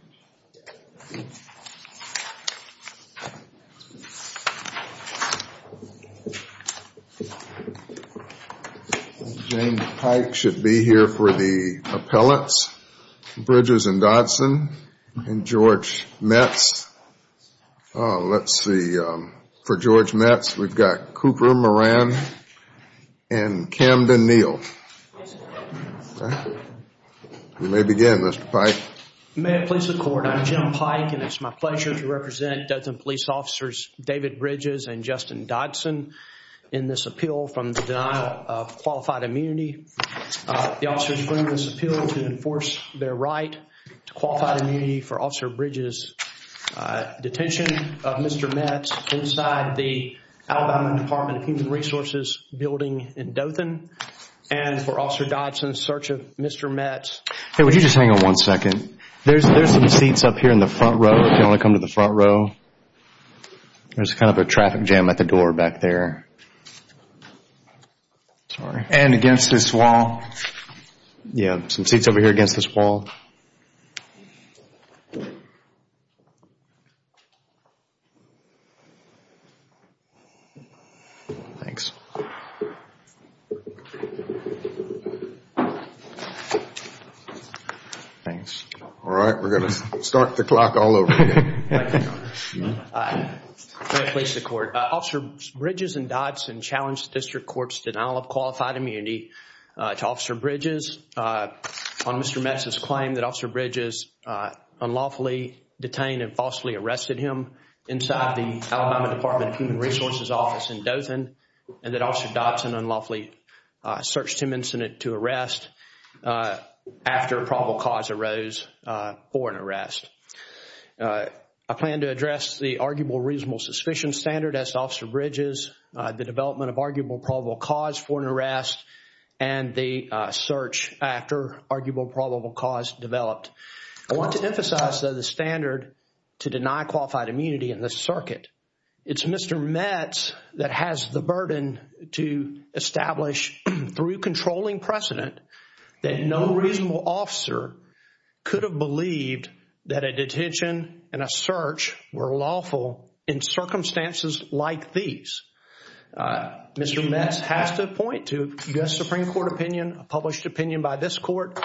I think James Pike should be here for the appellants, Bridges and Dodson, and George Metz. Let's see, for George Metz we've got Cooper Moran and Camden Neal. We may begin May it please the Court, I'm Jim Pike and it's my pleasure to represent Dothan police officers David Bridges and Justin Dodson in this appeal from the denial of qualified immunity. The officers bring this appeal to enforce their right to qualified immunity for Officer Bridges' detention of Mr. Metz inside the Alabama Department of Human Resources building in Dothan and for Officer Dodson's search of Mr. Metz. Hey, would you just hang on one second? There's some seats up here in the front row if you want to come to the front row. There's kind of a traffic jam at the door back there. And against this wall. Yeah, some seats over here against this wall. Thanks. All right, we're going to start the clock all over again. May it please the Court, Officer Bridges and Dodson challenged the District Court's denial of qualified immunity to Officer Bridges on Mr. Metz's claim that Officer Bridges unlawfully detained and falsely arrested him inside the Alabama Department of Human Resources office in Dothan and that Officer Dodson unlawfully searched him incident to arrest after a probable cause arose for an arrest. I plan to address the arguable reasonable suspicion standard as Officer Bridges, the development of arguable probable cause for an arrest and the search after arguable probable cause developed. I want to emphasize, though, the standard to deny qualified immunity in this circuit. It's Mr. Metz that has the burden to establish through controlling precedent that no reasonable officer could have believed that a detention and a search were lawful in circumstances like these. Mr. Metz has to point to U.S. Supreme Court opinion, a published opinion by this court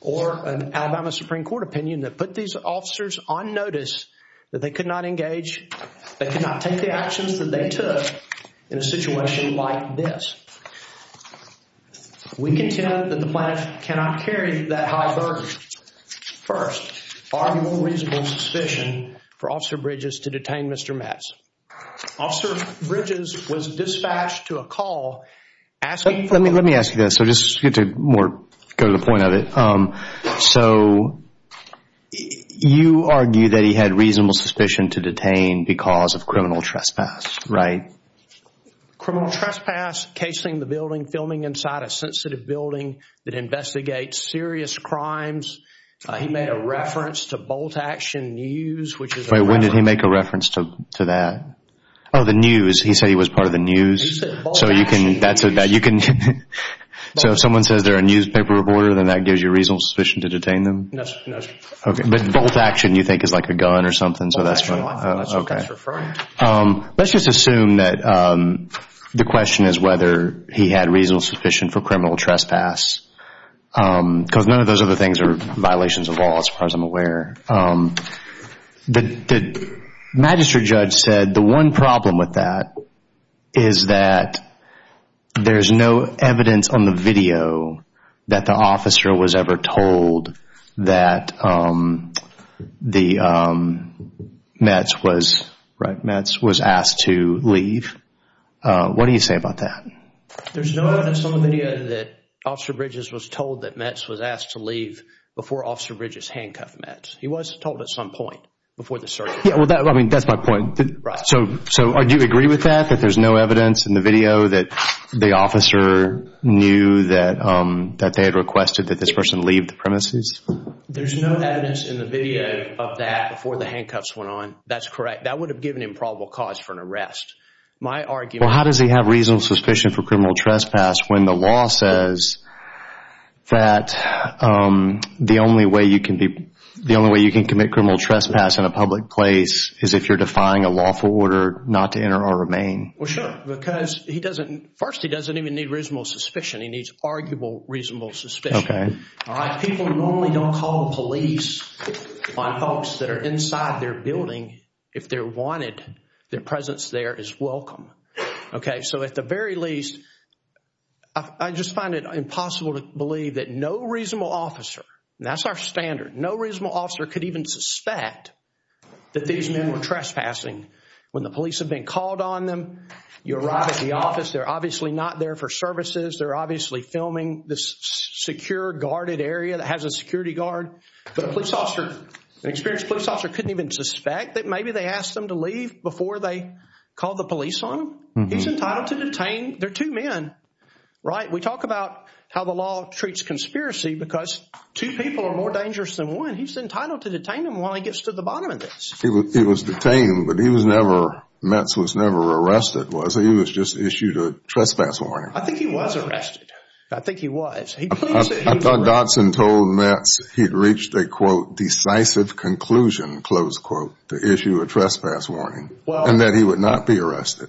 or an Alabama Supreme Court opinion that put these officers on notice that they could not engage, they could not take the actions that they took in a situation like this. We contend that the plaintiff cannot carry that high burden. First, arguable reasonable suspicion for Officer Bridges to detain Mr. Metz. Officer Bridges was dispatched to a call asking... Let me ask you this, so just to go to the point of it. So, you argue that he had reasonable suspicion to detain because of criminal trespass, right? Criminal trespass, casing the building, filming inside a sensitive building that investigates serious crimes. He made a reference to bolt action news, which is... Wait, when did he make a reference to that? Oh, the news. He said he was part of the news. He said bolt action news. So, if someone says they're a newspaper reporter, then that gives you reasonable suspicion to detain them? No, sir. Okay, but bolt action you think is like a gun or something, so that's what... That's what that's referring to. Let's just assume that the question is whether he had reasonable suspicion for criminal trespass, because none of those other things are violations of law as far as I'm aware. The magistrate judge said the one problem with that is that there's no evidence on the video that the officer was ever told that Metz was asked to leave. What do you say about that? There's no evidence on the video that Officer Bridges was told that Metz was asked to leave before Officer Bridges handcuffed Metz. He was told at some point before the search. Yeah, well, I mean, that's my point. So, do you agree with that, that there's no evidence in the video that the officer knew that they had requested that this person leave the premises? There's no evidence in the video of that before the handcuffs went on. That's correct. That would have given him probable cause for an arrest. Well, how does he have reasonable suspicion for criminal trespass when the law says that the only way you can commit criminal trespass in a public place is if you're defying a lawful order not to enter or remain? Well, sure, because he doesn't... First, he doesn't even need reasonable suspicion. He needs arguable reasonable suspicion. All right, people normally don't call the police on folks that are inside their building if they're wanted. Their presence there is welcome. Okay, so at the very least, I just find it impossible to believe that no reasonable officer, and that's our standard, no reasonable officer could even suspect that these men were trespassing. When the police have been called on them, you arrive at the office. They're obviously not there for services. They're obviously filming this secure guarded area that has a security guard. But an experienced police officer couldn't even suspect that maybe they asked them to leave before they called the police on them. He's entitled to detain. They're two men, right? We talk about how the law treats conspiracy because two people are more dangerous than one. He's entitled to detain them while he gets to the bottom of this. He was detained, but he was never... Metz was never arrested, was he? He was just issued a trespass warning. I think he was arrested. I think he was. I thought Dodson told Metz he'd reached a, quote, decisive conclusion, close quote, to issue a trespass warning and that he would not be arrested.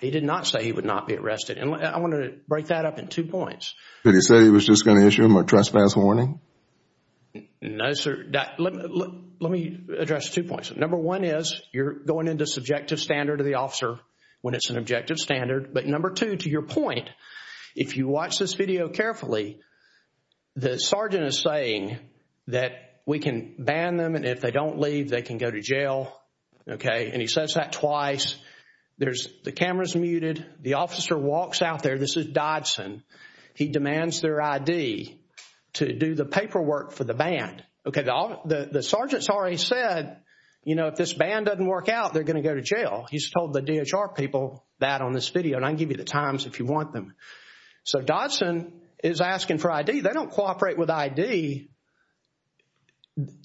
He did not say he would not be arrested. I want to break that up in two points. Did he say he was just going to issue him a trespass warning? No, sir. Let me address two points. Number one is you're going into subjective standard of the officer when it's an objective standard. But number two, to your point, if you watch this video carefully, the sergeant is saying that we can ban them and if they don't leave, they can go to jail. Okay? And he says that twice. There's the cameras muted. The officer walks out there. This is Dodson. He demands their ID to do the paperwork for the band. Okay, the sergeant's already said, you know, if this band doesn't work out, they're going to go to jail. He's told the DHR people that on this video, and I can give you the times if you want them. So Dodson is asking for ID. They don't cooperate with ID.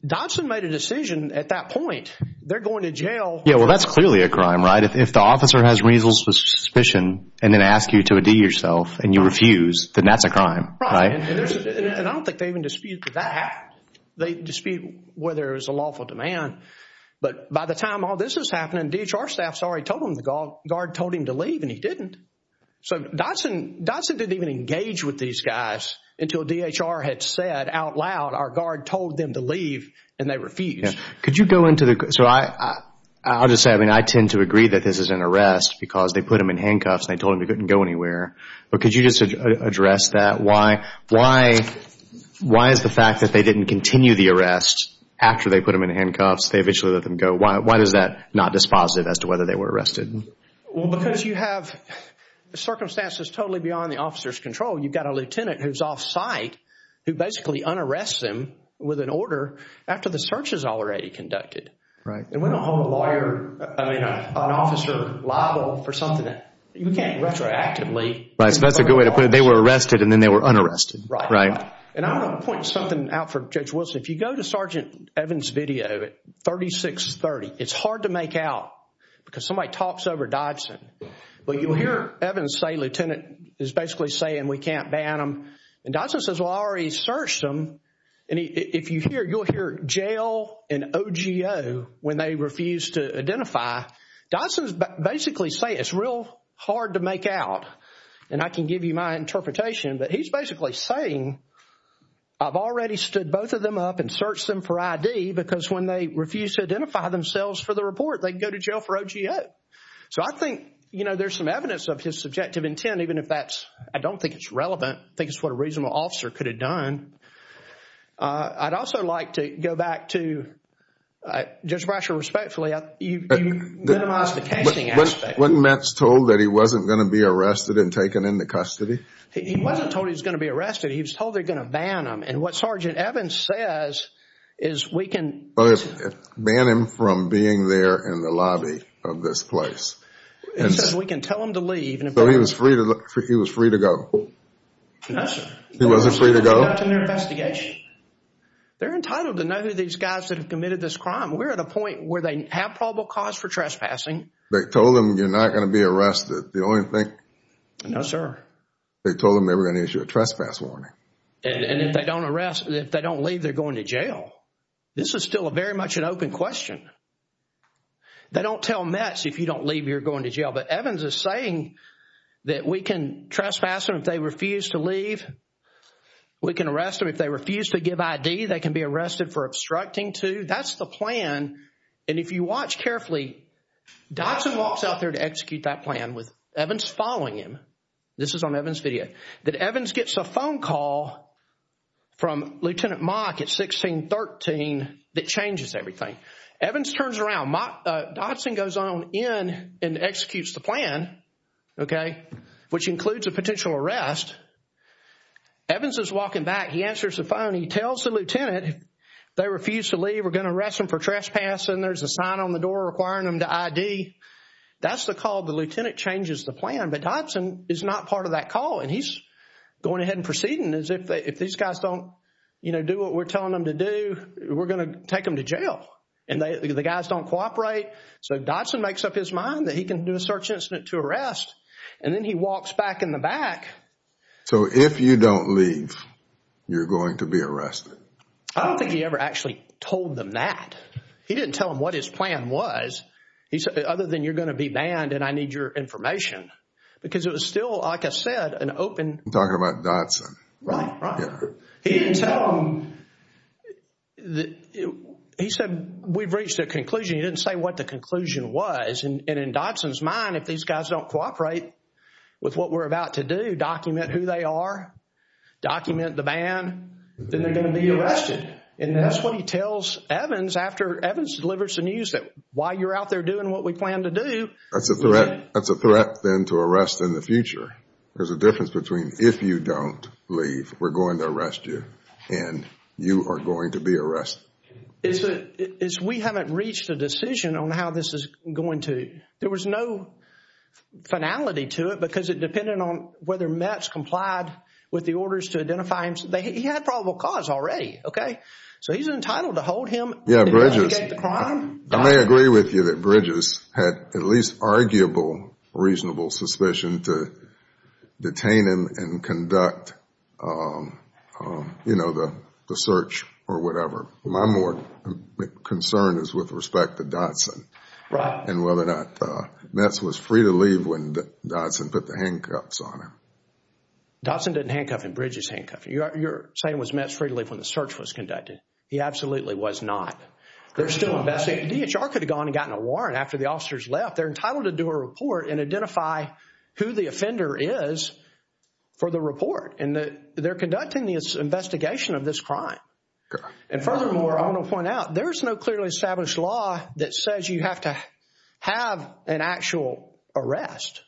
Dodson made a decision at that point. They're going to jail. Yeah, well, that's clearly a crime, right? If the officer has reasons for suspicion and then asks you to ID yourself and you refuse, then that's a crime, right? And I don't think they even dispute that. They dispute whether it was a lawful demand. But by the time all this was happening, DHR staffs already told him the guard told him to leave and he didn't. So Dodson didn't even engage with these guys until DHR had said out loud our guard told them to leave and they refused. Could you go into the... So I'll just say, I mean, I tend to agree that this is an arrest because they put him in handcuffs. They told him he couldn't go anywhere. But could you just address that? Why is the fact that they didn't continue the arrest after they put him in handcuffs? They eventually let them go. Why is that not dispositive as to whether they were arrested? Well, because you have circumstances totally beyond the officer's control. You've got a lieutenant who's off-site who basically un-arrests him with an order after the search is already conducted. Right. And we don't hold a lawyer, I mean, an officer liable for something that you can't retroactively... Right. So that's a good way to put it. They were arrested and then they were un-arrested. Right. Right. And I want to point something out for Judge Wilson. If you go to Sergeant Evans' video at 3630, it's hard to make out because somebody talks over Dodson. But you'll hear Evans say, lieutenant, is basically saying we can't ban them. And Dodson says, well, I already searched them. And if you hear, you'll hear jail and OGO when they refuse to identify. Dodson is basically saying it's real hard to make out. And I can give you my interpretation. But he's basically saying I've already stood both of them up and searched them for ID because when they refuse to identify themselves for the report, they go to jail for OGO. So I think, you know, there's some evidence of his subjective intent, even if that's... I don't think it's relevant. I think it's what a reasonable officer could have done. I'd also like to go back to... Judge Brasher, respectfully, you minimized the casting aspect. Wasn't Metz told that he wasn't going to be arrested and taken into custody? He wasn't told he was going to be arrested. He was told they were going to ban him. And what Sergeant Evans says is we can... Ban him from being there in the lobby of this place. He says we can tell him to leave. So he was free to go? No, sir. He wasn't free to go? They're entitled to know these guys that have committed this crime. We're at a point where they have probable cause for trespassing. They told him you're not going to be arrested. The only thing... No, sir. They told him they were going to issue a trespass warning. And if they don't arrest, if they don't leave, they're going to jail. This is still very much an open question. They don't tell Metz if you don't leave, you're going to jail. But Evans is saying that we can trespass them if they refuse to leave. We can arrest them if they refuse to give ID. They can be arrested for obstructing to. That's the plan. And if you watch carefully, Dodson walks out there to execute that plan with Evans following him. This is on Evans' video. That Evans gets a phone call from Lieutenant Mock at 1613 that changes everything. Evans turns around. Dodson goes on in and executes the plan, okay, which includes a potential arrest. Evans is walking back. He answers the phone. He tells the lieutenant if they refuse to leave, we're going to arrest them for trespassing. There's a sign on the door requiring them to ID. That's the call. The lieutenant changes the plan. But Dodson is not part of that call. And he's going ahead and proceeding as if these guys don't do what we're telling them to do, we're going to take them to jail. And the guys don't cooperate. So Dodson makes up his mind that he can do a search incident to arrest. And then he walks back in the back. So if you don't leave, you're going to be arrested? I don't think he ever actually told them that. He didn't tell them what his plan was. He said, other than you're going to be banned and I need your information. Because it was still, like I said, an open. I'm talking about Dodson. Right, right. He didn't tell them. He said, we've reached a conclusion. He didn't say what the conclusion was. And in Dodson's mind, if these guys don't cooperate with what we're about to do, document who they are, document the ban, then they're going to be arrested. And that's what he tells Evans after Evans delivers the news, that while you're out there doing what we plan to do. That's a threat then to arrest in the future. There's a difference between if you don't leave, we're going to arrest you, and you are going to be arrested. It's we haven't reached a decision on how this is going to. There was no finality to it because it depended on whether Mets complied with the orders to identify him. He had probable cause already. So he's entitled to hold him. Yeah, Bridges, I may agree with you that Bridges had at least arguable, reasonable suspicion to detain him and conduct the search or whatever. My more concern is with respect to Dodson and whether or not Mets was free to leave when Dodson put the handcuffs on him. Dodson didn't handcuff him. Bridges handcuffed him. You're saying was Mets free to leave when the search was conducted. He absolutely was not. They're still investigating. DHR could have gone and gotten a warrant after the officers left. They're entitled to do a report and identify who the offender is for the report. And they're conducting this investigation of this crime. And furthermore, I want to point out, there is no clearly established law that says you have to have an actual arrest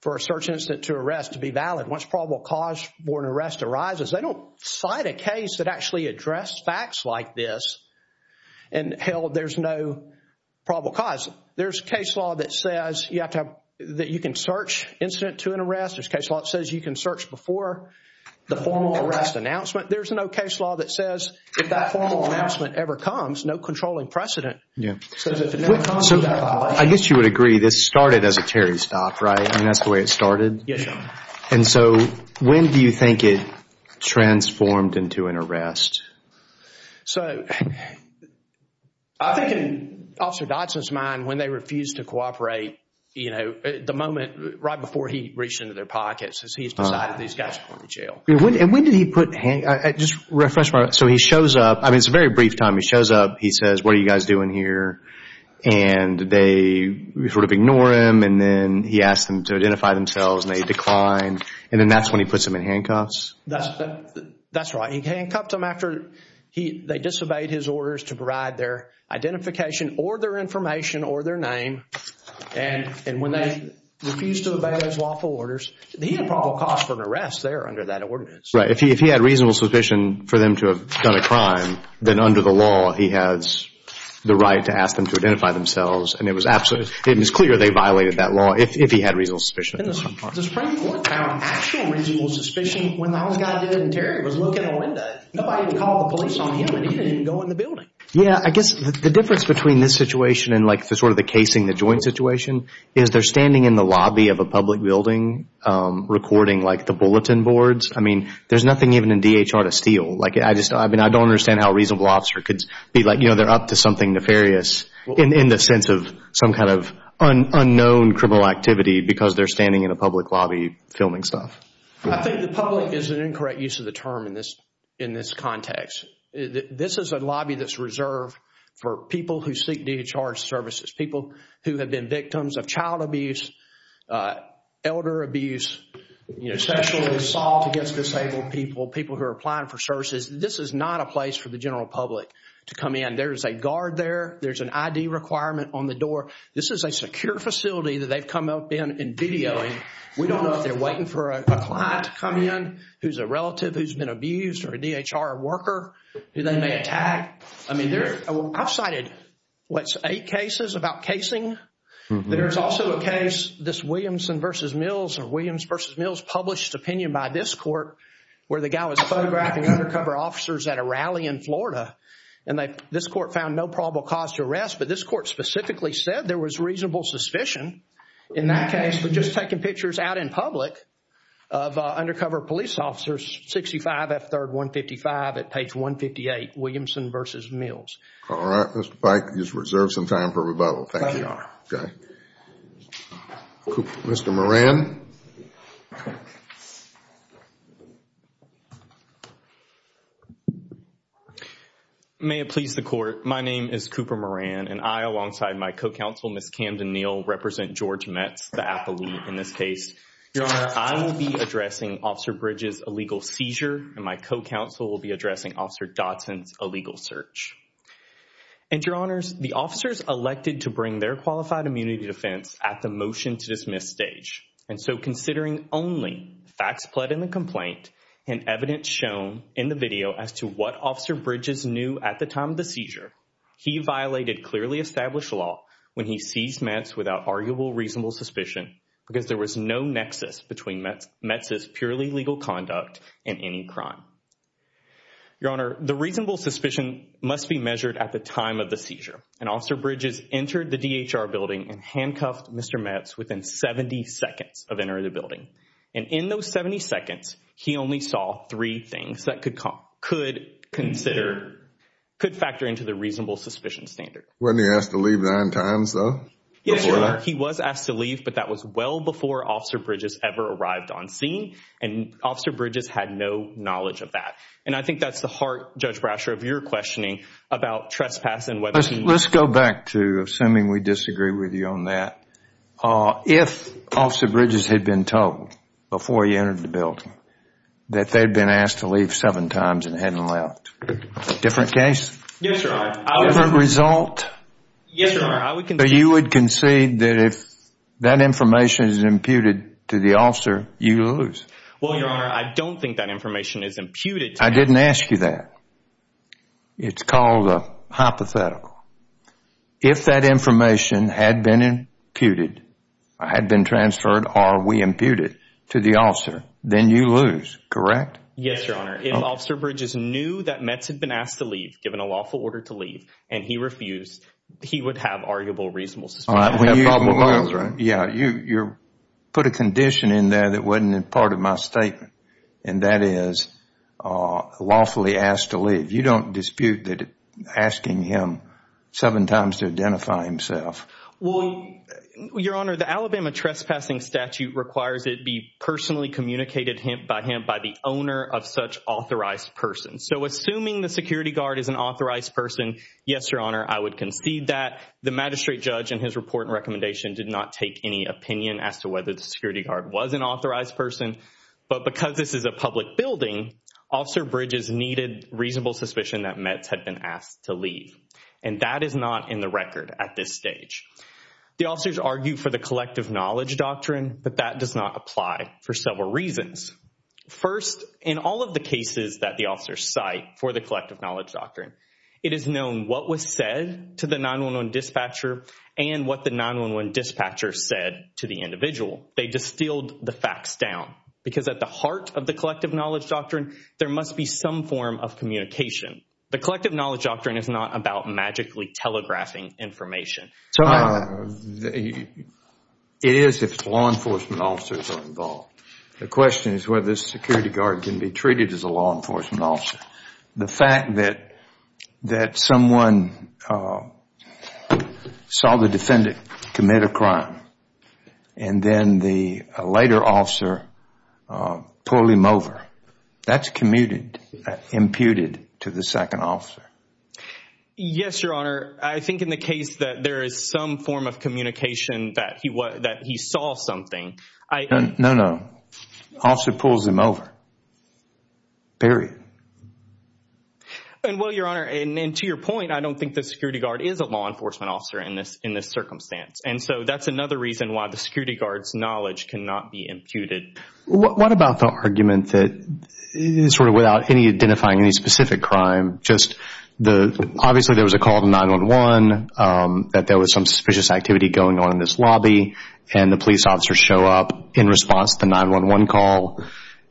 for a search incident to arrest to be valid. Once probable cause for an arrest arises, they don't cite a case that actually addressed facts like this and held there's no probable cause. There's a case law that says you have to have, that you can search incident to an arrest. There's a case law that says you can search before the formal arrest announcement. There's no case law that says if that formal announcement ever comes, no controlling precedent. I guess you would agree this started as a Terry stop, right? I mean, that's the way it started. Yes, sir. And so, when do you think it transformed into an arrest? So, I think in Officer Dodson's mind, when they refused to cooperate, you know, the moment right before he reached into their pockets is he's decided these guys are going to jail. And when did he put, just refresh my, so he shows up, I mean, it's a very brief time, he shows up, he says, what are you guys doing here? And they sort of ignore him and then he asks them to identify themselves and they decline. And then that's when he puts them in handcuffs? That's right. He handcuffs them after they disobeyed his orders to provide their identification or their information or their name. And when they refused to obey those lawful orders, he had probable cause for an arrest there under that ordinance. If he had reasonable suspicion for them to have done a crime, then under the law, he has the right to ask them to identify themselves. And it was absolutely, it was clear they violated that law if he had reasonable suspicion. The Supreme Court found actual reasonable suspicion when the house guy did it and Terry was looking in the window. Nobody would call the police on him and he didn't even go in the building. Yeah, I guess the difference between this situation and, like, the sort of the casing, the joint situation, is they're standing in the lobby of a public building recording, like, the bulletin boards. I mean, there's nothing even in DHR to steal. Like, I just, I mean, I don't understand how a reasonable officer could be like, you know, they're up to something nefarious in the sense of some kind of unknown criminal activity because they're standing in a public lobby filming stuff. I think the public is an incorrect use of the term in this context. This is a lobby that's reserved for people who seek DHR services, people who have been victims of child abuse, elder abuse, you know, sexually assault against disabled people, people who are applying for services. This is not a place for the general public to come in. There's a guard there. There's an ID requirement on the door. This is a secure facility that they've come up in and videoing. We don't know if they're waiting for a client to come in who's a relative who's been abused or a DHR worker who they may attack. I mean, I've cited, what, eight cases about casing. There's also a case, this Williamson v. Mills or Williams v. Mills published opinion by this court where the guy was photographing undercover officers at a rally in Florida and this court found no probable cause to arrest. But this court specifically said there was reasonable suspicion in that case for just taking pictures out in public of undercover police officers, 65 F3rd 155 at page 158, Williamson v. Mills. All right. Mr. Pike, you've reserved some time for rebuttal. Thank you. Mr. Moran. May it please the court. My name is Cooper Moran and I, alongside my co-counsel, Ms. Camden Neal, represent George Metz, the appellee in this case. Your Honor, I will be addressing Officer Bridges' illegal seizure and my co-counsel will be addressing Officer Dodson's illegal search. And, Your Honors, the officers elected to bring their qualified immunity defense at the motion to dismiss stage. And so considering only facts pled in the complaint and evidence shown in the video as to what Officer Bridges knew at the time of the seizure, he violated clearly established law when he seized Metz without arguable reasonable suspicion because there was no nexus between Metz's purely legal conduct and any crime. Your Honor, the reasonable suspicion must be measured at the time of the seizure. And Officer Bridges entered the DHR building and handcuffed Mr. Metz within 70 seconds of entering the building. And in those 70 seconds, he only saw three things that could factor into the reasonable suspicion standard. Wasn't he asked to leave nine times, though? Yes, Your Honor. He was asked to leave, but that was well before Officer Bridges ever arrived on scene. And Officer Bridges had no knowledge of that. And I think that's the heart, Judge Brasher, of your questioning about trespassing. Let's go back to assuming we disagree with you on that. If Officer Bridges had been told before he entered the building that they'd been asked to leave seven times and hadn't left, different case? Yes, Your Honor. Different result? Yes, Your Honor. But you would concede that if that information is imputed to the officer, you lose? Well, Your Honor, I don't think that information is imputed. I didn't ask you that. It's called a hypothetical. If that information had been imputed, had been transferred, or we imputed to the officer, then you lose, correct? Yes, Your Honor. If Officer Bridges knew that Metz had been asked to leave, given a lawful order to leave, and he refused, he would have arguable reasonable suspicion. Yeah, you put a condition in there that wasn't part of my statement, and that is lawfully asked to leave. You don't dispute that asking him seven times to identify himself. Well, Your Honor, the Alabama trespassing statute requires it be personally communicated by him by the owner of such authorized person. So assuming the security guard is an authorized person, yes, Your Honor, I would concede that. The magistrate judge in his report and recommendation did not take any opinion as to whether the security guard was an authorized person. But because this is a public building, Officer Bridges needed reasonable suspicion that Metz had been asked to leave, and that is not in the record at this stage. The officers argued for the collective knowledge doctrine, but that does not apply for several reasons. First, in all of the cases that the officers cite for the collective knowledge doctrine, it is known what was said to the 911 dispatcher and what the 911 dispatcher said to the individual. They distilled the facts down because at the heart of the collective knowledge doctrine, there must be some form of communication. The collective knowledge doctrine is not about magically telegraphing information. It is if law enforcement officers are involved. The question is whether the security guard can be treated as a law enforcement officer. The fact that someone saw the defendant commit a crime and then the later officer pull him over, that's commuted, imputed to the second officer. Yes, Your Honor. I think in the case that there is some form of communication that he saw something. No, no. Officer pulls him over, period. Well, Your Honor, and to your point, I don't think the security guard is a law enforcement officer in this circumstance. And so that's another reason why the security guard's knowledge cannot be imputed. What about the argument that sort of without any identifying any specific crime, just obviously there was a call to 911, that there was some suspicious activity going on in this lobby, and the police officers show up in response to the 911 call.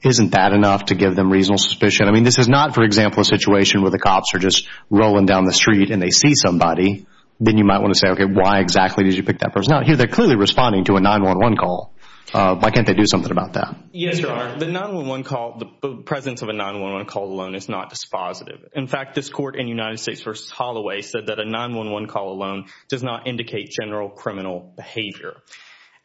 Isn't that enough to give them reasonable suspicion? I mean, this is not, for example, a situation where the cops are just rolling down the street and they see somebody. Then you might want to say, okay, why exactly did you pick that person? Now, here they're clearly responding to a 911 call. Why can't they do something about that? Yes, Your Honor. The 911 call, the presence of a 911 call alone is not dispositive. In fact, this court in United States v. Holloway said that a 911 call alone does not indicate general criminal behavior.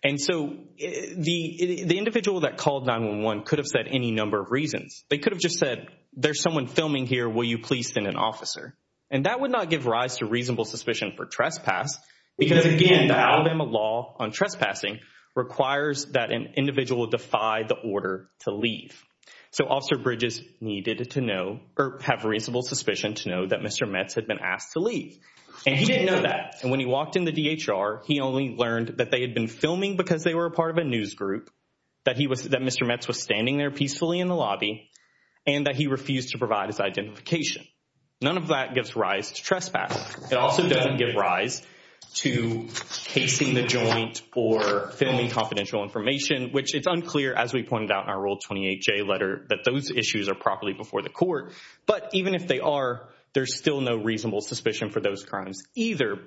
And so the individual that called 911 could have said any number of reasons. They could have just said, there's someone filming here. Will you please send an officer? And that would not give rise to reasonable suspicion for trespass because, again, the Alabama law on trespassing requires that an individual defy the order to leave. So Officer Bridges needed to know or have reasonable suspicion to know that Mr. Metz had been asked to leave. And he didn't know that. And when he walked in the DHR, he only learned that they had been filming because they were a part of a news group, that Mr. Metz was standing there peacefully in the lobby, and that he refused to provide his identification. None of that gives rise to trespass. It also doesn't give rise to casing the joint or filming confidential information, which it's unclear, as we pointed out in our Rule 28J letter, that those issues are properly before the court. But even if they are, there's still no reasonable suspicion for those crimes either.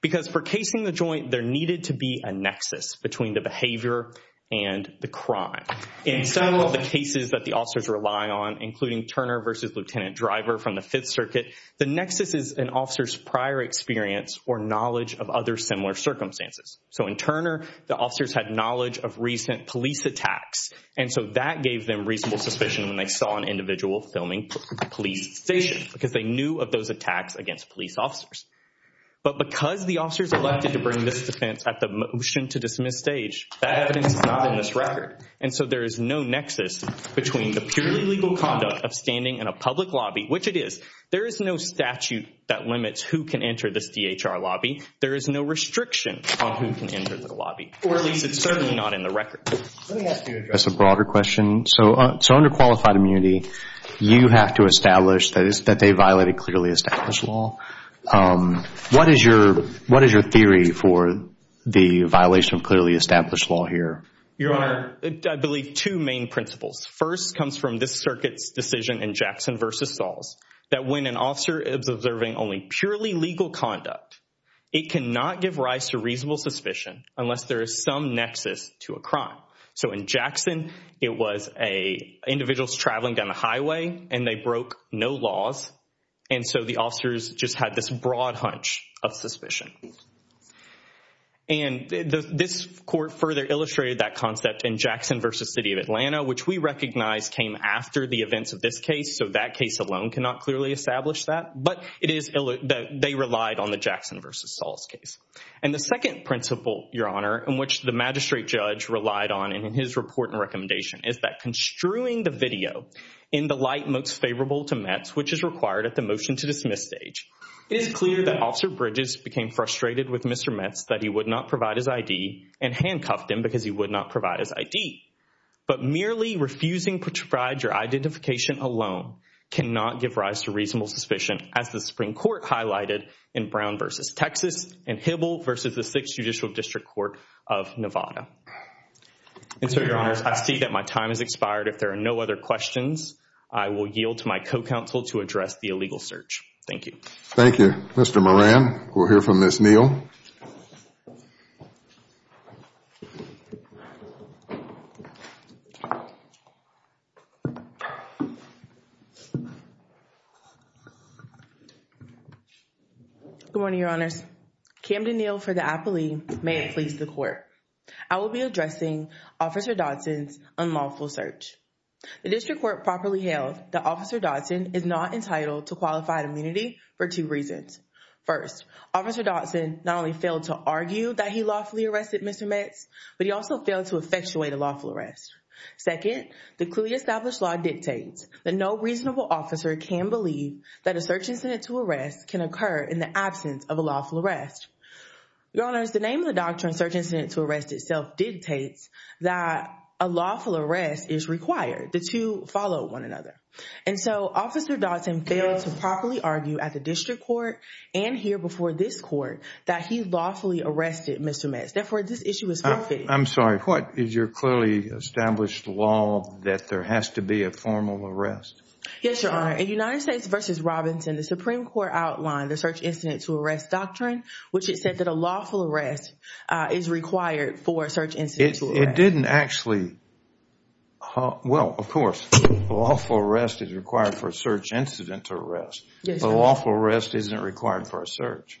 Because for casing the joint, there needed to be a nexus between the behavior and the crime. In some of the cases that the officers rely on, including Turner v. Lieutenant Driver from the Fifth Circuit, the nexus is an officer's prior experience or knowledge of other similar circumstances. So in Turner, the officers had knowledge of recent police attacks, and so that gave them reasonable suspicion when they saw an individual filming the police station because they knew of those attacks against police officers. But because the officers elected to bring this defense at the motion-to-dismiss stage, that evidence is not in this record. And so there is no nexus between the purely legal conduct of standing in a public lobby, which it is. There is no statute that limits who can enter this DHR lobby. There is no restriction on who can enter the lobby. Or at least it's certainly not in the record. Let me ask you to address a broader question. So under qualified immunity, you have to establish that they violated clearly established law. What is your theory for the violation of clearly established law here? Your Honor, I believe two main principles. First comes from this Circuit's decision in Jackson v. Sauls, that when an officer is observing only purely legal conduct, it cannot give rise to reasonable suspicion unless there is some nexus to a crime. So in Jackson, it was individuals traveling down the highway, and they broke no laws, and so the officers just had this broad hunch of suspicion. And this court further illustrated that concept in Jackson v. City of Atlanta, which we recognize came after the events of this case, so that case alone cannot clearly establish that. But it is that they relied on the Jackson v. Sauls case. And the second principle, Your Honor, in which the magistrate judge relied on in his report and recommendation, is that construing the video in the light most favorable to Metz, which is required at the motion to dismiss stage, it is clear that Officer Bridges became frustrated with Mr. Metz that he would not provide his ID and handcuffed him because he would not provide his ID. But merely refusing to provide your identification alone cannot give rise to reasonable suspicion, as the Supreme Court highlighted in Brown v. Texas and Hibble v. the 6th Judicial District Court of Nevada. And so, Your Honor, I see that my time has expired. If there are no other questions, I will yield to my co-counsel to address the illegal search. Thank you. Thank you. Mr. Moran, we'll hear from Ms. Neal. Good morning, Your Honors. Camden Neal for the apology, may it please the Court. I will be addressing Officer Dodson's unlawful search. The district court properly held that Officer Dodson is not entitled to qualified immunity for two reasons. First, Officer Dodson not only failed to argue that he lawfully arrested Mr. Metz, but he also failed to effectuate a lawful arrest. Second, the clearly established law dictates that no reasonable officer can believe that a search incident to arrest can occur in the absence of a lawful arrest. Your Honors, the name of the doctrine, search incident to arrest itself, dictates that a lawful arrest is required. The two follow one another. And so, Officer Dodson failed to properly argue at the district court and here before this court that he lawfully arrested Mr. Metz. Therefore, this issue is forfeited. I'm sorry. What is your clearly established law that there has to be a formal arrest? Yes, Your Honor. In United States v. Robinson, the Supreme Court outlined the search incident to arrest doctrine, which it said that a lawful arrest is required for a search incident to arrest. It didn't actually – well, of course, a lawful arrest is required for a search incident to arrest. A lawful arrest isn't required for a search.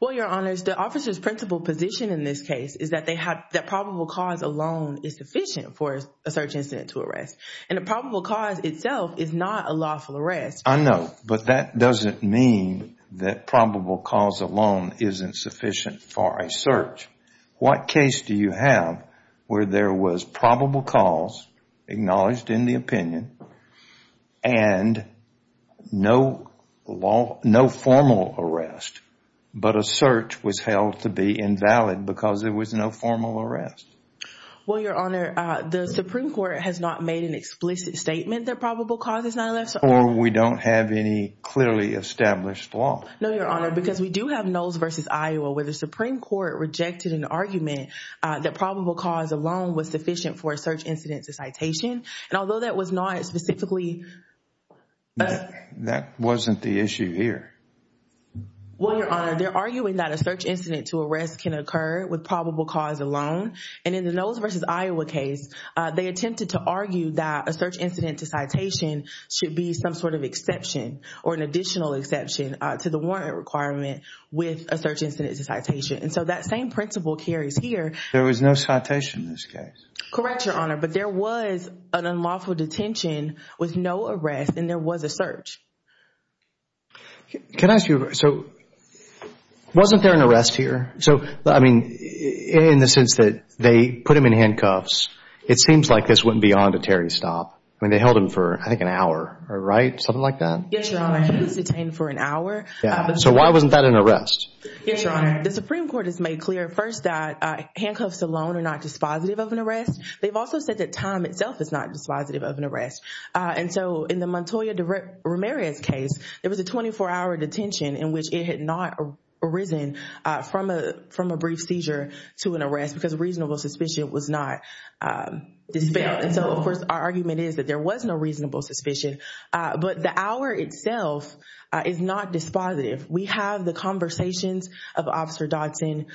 Well, Your Honors, the officer's principle position in this case is that they have – that probable cause alone is sufficient for a search incident to arrest. And a probable cause itself is not a lawful arrest. I know. But that doesn't mean that probable cause alone isn't sufficient for a search. What case do you have where there was probable cause acknowledged in the opinion and no formal arrest, but a search was held to be invalid because there was no formal arrest? Well, Your Honor, the Supreme Court has not made an explicit statement that probable cause is not a lawful arrest. Or we don't have any clearly established law. No, Your Honor, because we do have Knowles v. Iowa where the Supreme Court rejected an argument that probable cause alone was sufficient for a search incident to citation. And although that was not specifically – That wasn't the issue here. Well, Your Honor, they're arguing that a search incident to arrest can occur with probable cause alone. And in the Knowles v. Iowa case, they attempted to argue that a search incident to citation should be some sort of exception or an additional exception to the warrant requirement with a search incident to citation. And so that same principle carries here. There was no citation in this case. Correct, Your Honor. But there was an unlawful detention with no arrest, and there was a search. Can I ask you – so wasn't there an arrest here? So, I mean, in the sense that they put him in handcuffs, it seems like this went beyond a Terry stop. I mean, they held him for, I think, an hour, right? Something like that? Yes, Your Honor. He was detained for an hour. So why wasn't that an arrest? Yes, Your Honor. The Supreme Court has made clear first that handcuffs alone are not dispositive of an arrest. They've also said that time itself is not dispositive of an arrest. And so in the Montoya v. Ramirez case, there was a 24-hour detention in which it had not arisen from a brief seizure to an arrest because reasonable suspicion was not dispelled. And so, of course, our argument is that there was no reasonable suspicion. But the hour itself is not dispositive. We have the conversations of Officer Dodson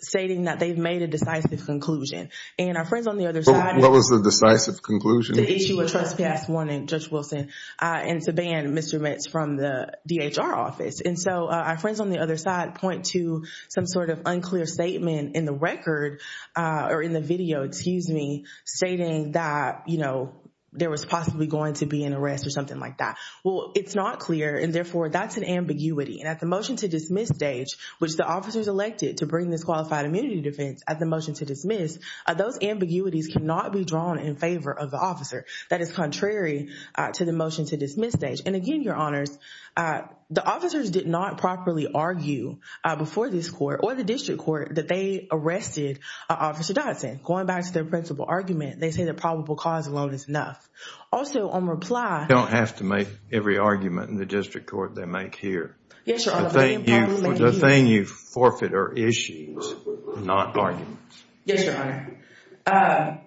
stating that they've made a decisive conclusion. And our friends on the other side – What was the decisive conclusion? The issue of trespass warning, Judge Wilson, and to ban Mr. Metz from the DHR office. And so our friends on the other side point to some sort of unclear statement in the record – or in the video, excuse me – stating that, you know, there was possibly going to be an arrest or something like that. Well, it's not clear, and therefore, that's an ambiguity. And at the motion-to-dismiss stage, which the officers elected to bring this qualified immunity defense at the motion-to-dismiss, those ambiguities cannot be drawn in favor of the officer. That is contrary to the motion-to-dismiss stage. And again, Your Honors, the officers did not properly argue before this court or the district court that they arrested Officer Dodson. Going back to their principal argument, they say the probable cause alone is enough. Also, on reply – You don't have to make every argument in the district court they make here. Yes, Your Honor. The thing you forfeit are issues, not arguments. Yes, Your Honor.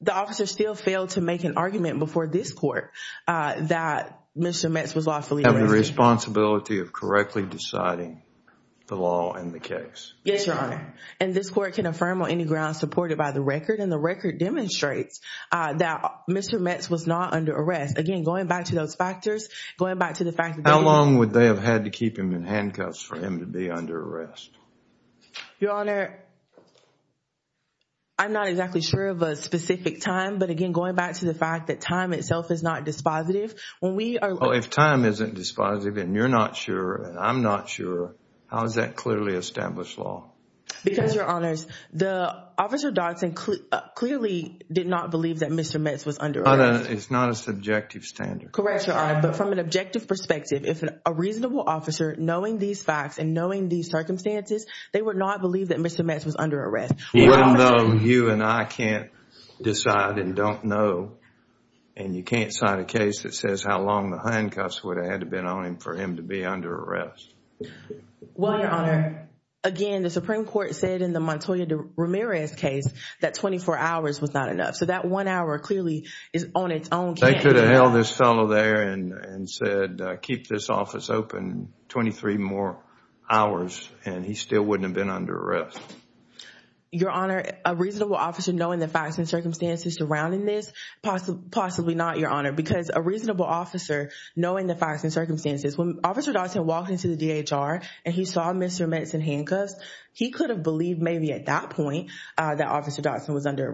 The officers still failed to make an argument before this court that Mr. Metz was lawfully arrested. Have the responsibility of correctly deciding the law and the case. Yes, Your Honor. And this court can affirm on any grounds supported by the record, and the record demonstrates that Mr. Metz was not under arrest. Again, going back to those factors, going back to the fact that – How long would they have had to keep him in handcuffs for him to be under arrest? Your Honor, I'm not exactly sure of a specific time. But again, going back to the fact that time itself is not dispositive. If time isn't dispositive and you're not sure and I'm not sure, how is that clearly established law? Because, Your Honors, Officer Dodson clearly did not believe that Mr. Metz was under arrest. It's not a subjective standard. Correct, Your Honor. But from an objective perspective, if a reasonable officer, knowing these facts and knowing these circumstances, they would not believe that Mr. Metz was under arrest. Even though you and I can't decide and don't know, and you can't sign a case that says how long the handcuffs would have had to have been on him for him to be under arrest. Well, Your Honor, again, the Supreme Court said in the Montoya Ramirez case that 24 hours was not enough. So that one hour clearly is on its own. They could have held this fellow there and said, keep this office open 23 more hours, and he still wouldn't have been under arrest. Your Honor, a reasonable officer knowing the facts and circumstances surrounding this, possibly not, Your Honor. Because a reasonable officer knowing the facts and circumstances, when Officer Dodson walked into the DHR and he saw Mr. Metz in handcuffs, he could have believed maybe at that point that Mr. Metz was under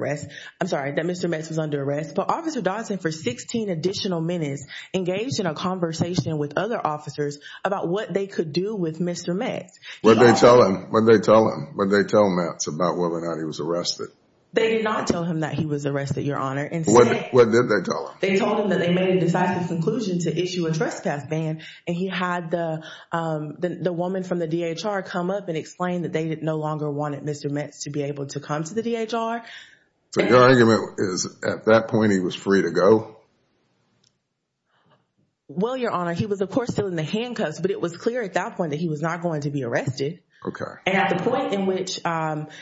arrest. But Officer Dodson, for 16 additional minutes, engaged in a conversation with other officers about what they could do with Mr. Metz. What did they tell him? What did they tell Metz about whether or not he was arrested? They did not tell him that he was arrested, Your Honor. What did they tell him? They told him that they made a decisive conclusion to issue a trespass ban, and he had the woman from the DHR come up and explain that they no longer wanted Mr. Metz to be able to come to the DHR. So your argument is at that point he was free to go? Well, Your Honor, he was, of course, still in the handcuffs, but it was clear at that point that he was not going to be arrested. Okay. And at the point in which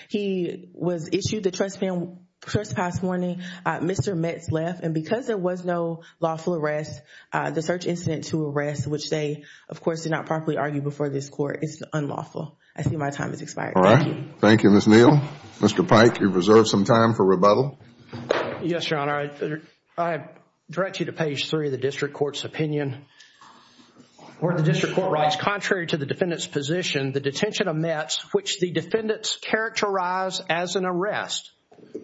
he was issued the trespass ban, Mr. Metz left. And because there was no lawful arrest, the search incident to arrest, which they, of course, did not properly argue before this Court, is unlawful. I see my time has expired. All right. Thank you. Thank you, Ms. Neal. Mr. Pike, you've reserved some time for rebuttal. Yes, Your Honor. I direct you to page 3 of the district court's opinion, where the district court writes, contrary to the defendant's position, the detention of Metz, which the defendants characterize as an arrest,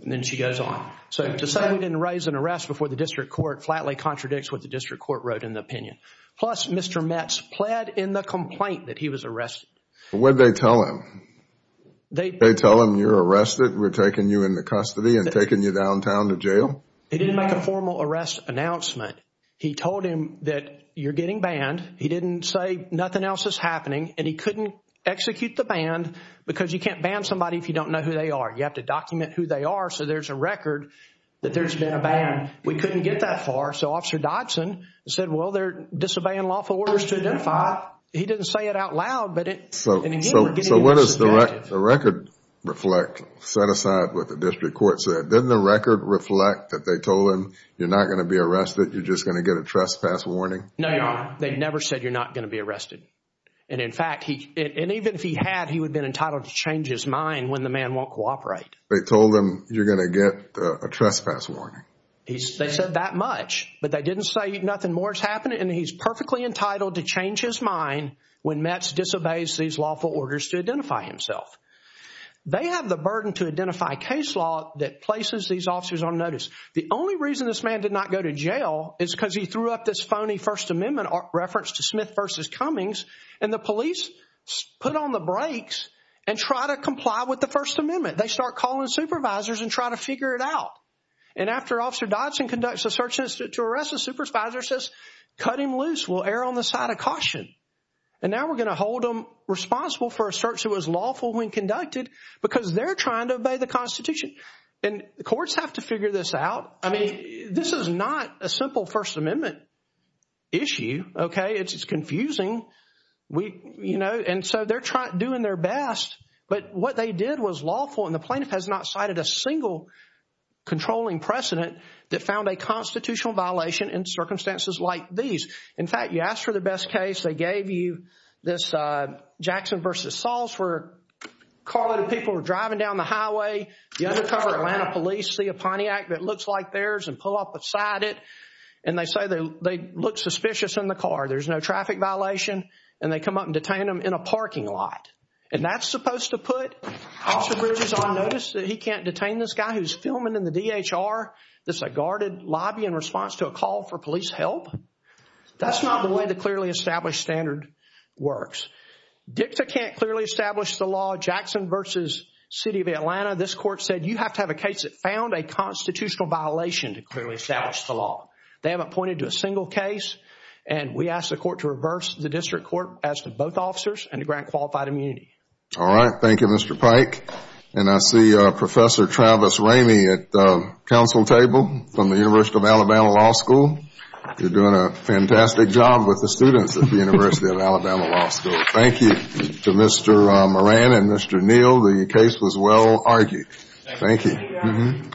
and then she goes on. So to say we didn't raise an arrest before the district court flatly contradicts what the district court wrote in the opinion. Plus, Mr. Metz pled in the complaint that he was arrested. What did they tell him? They tell him you're arrested, we're taking you into custody and taking you downtown to jail? They didn't make a formal arrest announcement. He told him that you're getting banned. He didn't say nothing else is happening, and he couldn't execute the ban because you can't ban somebody if you don't know who they are. You have to document who they are so there's a record that there's been a ban. We couldn't get that far, so Officer Dodson said, well, they're disobeying lawful orders to identify. He didn't say it out loud, but it – So what does the record reflect, set aside what the district court said? Didn't the record reflect that they told him you're not going to be arrested, you're just going to get a trespass warning? No, Your Honor. They never said you're not going to be arrested. And in fact, even if he had, he would have been entitled to change his mind when the man won't cooperate. They told him you're going to get a trespass warning. They said that much, but they didn't say nothing more is happening, and he's perfectly entitled to change his mind when Metz disobeys these lawful orders to identify himself. They have the burden to identify case law that places these officers on notice. The only reason this man did not go to jail is because he threw up this phony First Amendment reference to Smith v. Cummings, and the police put on the brakes and try to comply with the First Amendment. They start calling supervisors and try to figure it out. And after Officer Dodson conducts a search to arrest a supervisor, says, cut him loose, we'll err on the side of caution. And now we're going to hold him responsible for a search that was lawful when conducted because they're trying to obey the Constitution. And the courts have to figure this out. I mean, this is not a simple First Amendment issue, okay? It's confusing. And so they're doing their best, but what they did was lawful, and the plaintiff has not cited a single controlling precedent that found a constitutional violation in circumstances like these. In fact, you asked for the best case. They gave you this Jackson v. Sauls where carloaded people were driving down the highway. The undercover Atlanta police see a Pontiac that looks like theirs and pull up beside it, and they say they look suspicious in the car. There's no traffic violation, and they come up and detain them in a parking lot. And that's supposed to put Officer Bridges on notice that he can't detain this guy who's filming in the D.H.R. that's a guarded lobby in response to a call for police help? That's not the way the clearly established standard works. DICTA can't clearly establish the law. Jackson v. City of Atlanta, this court said, you have to have a case that found a constitutional violation to clearly establish the law. They haven't pointed to a single case, and we ask the court to reverse the district court as to both officers and to grant qualified immunity. All right. Thank you, Mr. Pike. And I see Professor Travis Ramey at the council table from the University of Alabama Law School. You're doing a fantastic job with the students at the University of Alabama Law School. Thank you to Mr. Moran and Mr. Neal. The case was well argued. Thank you.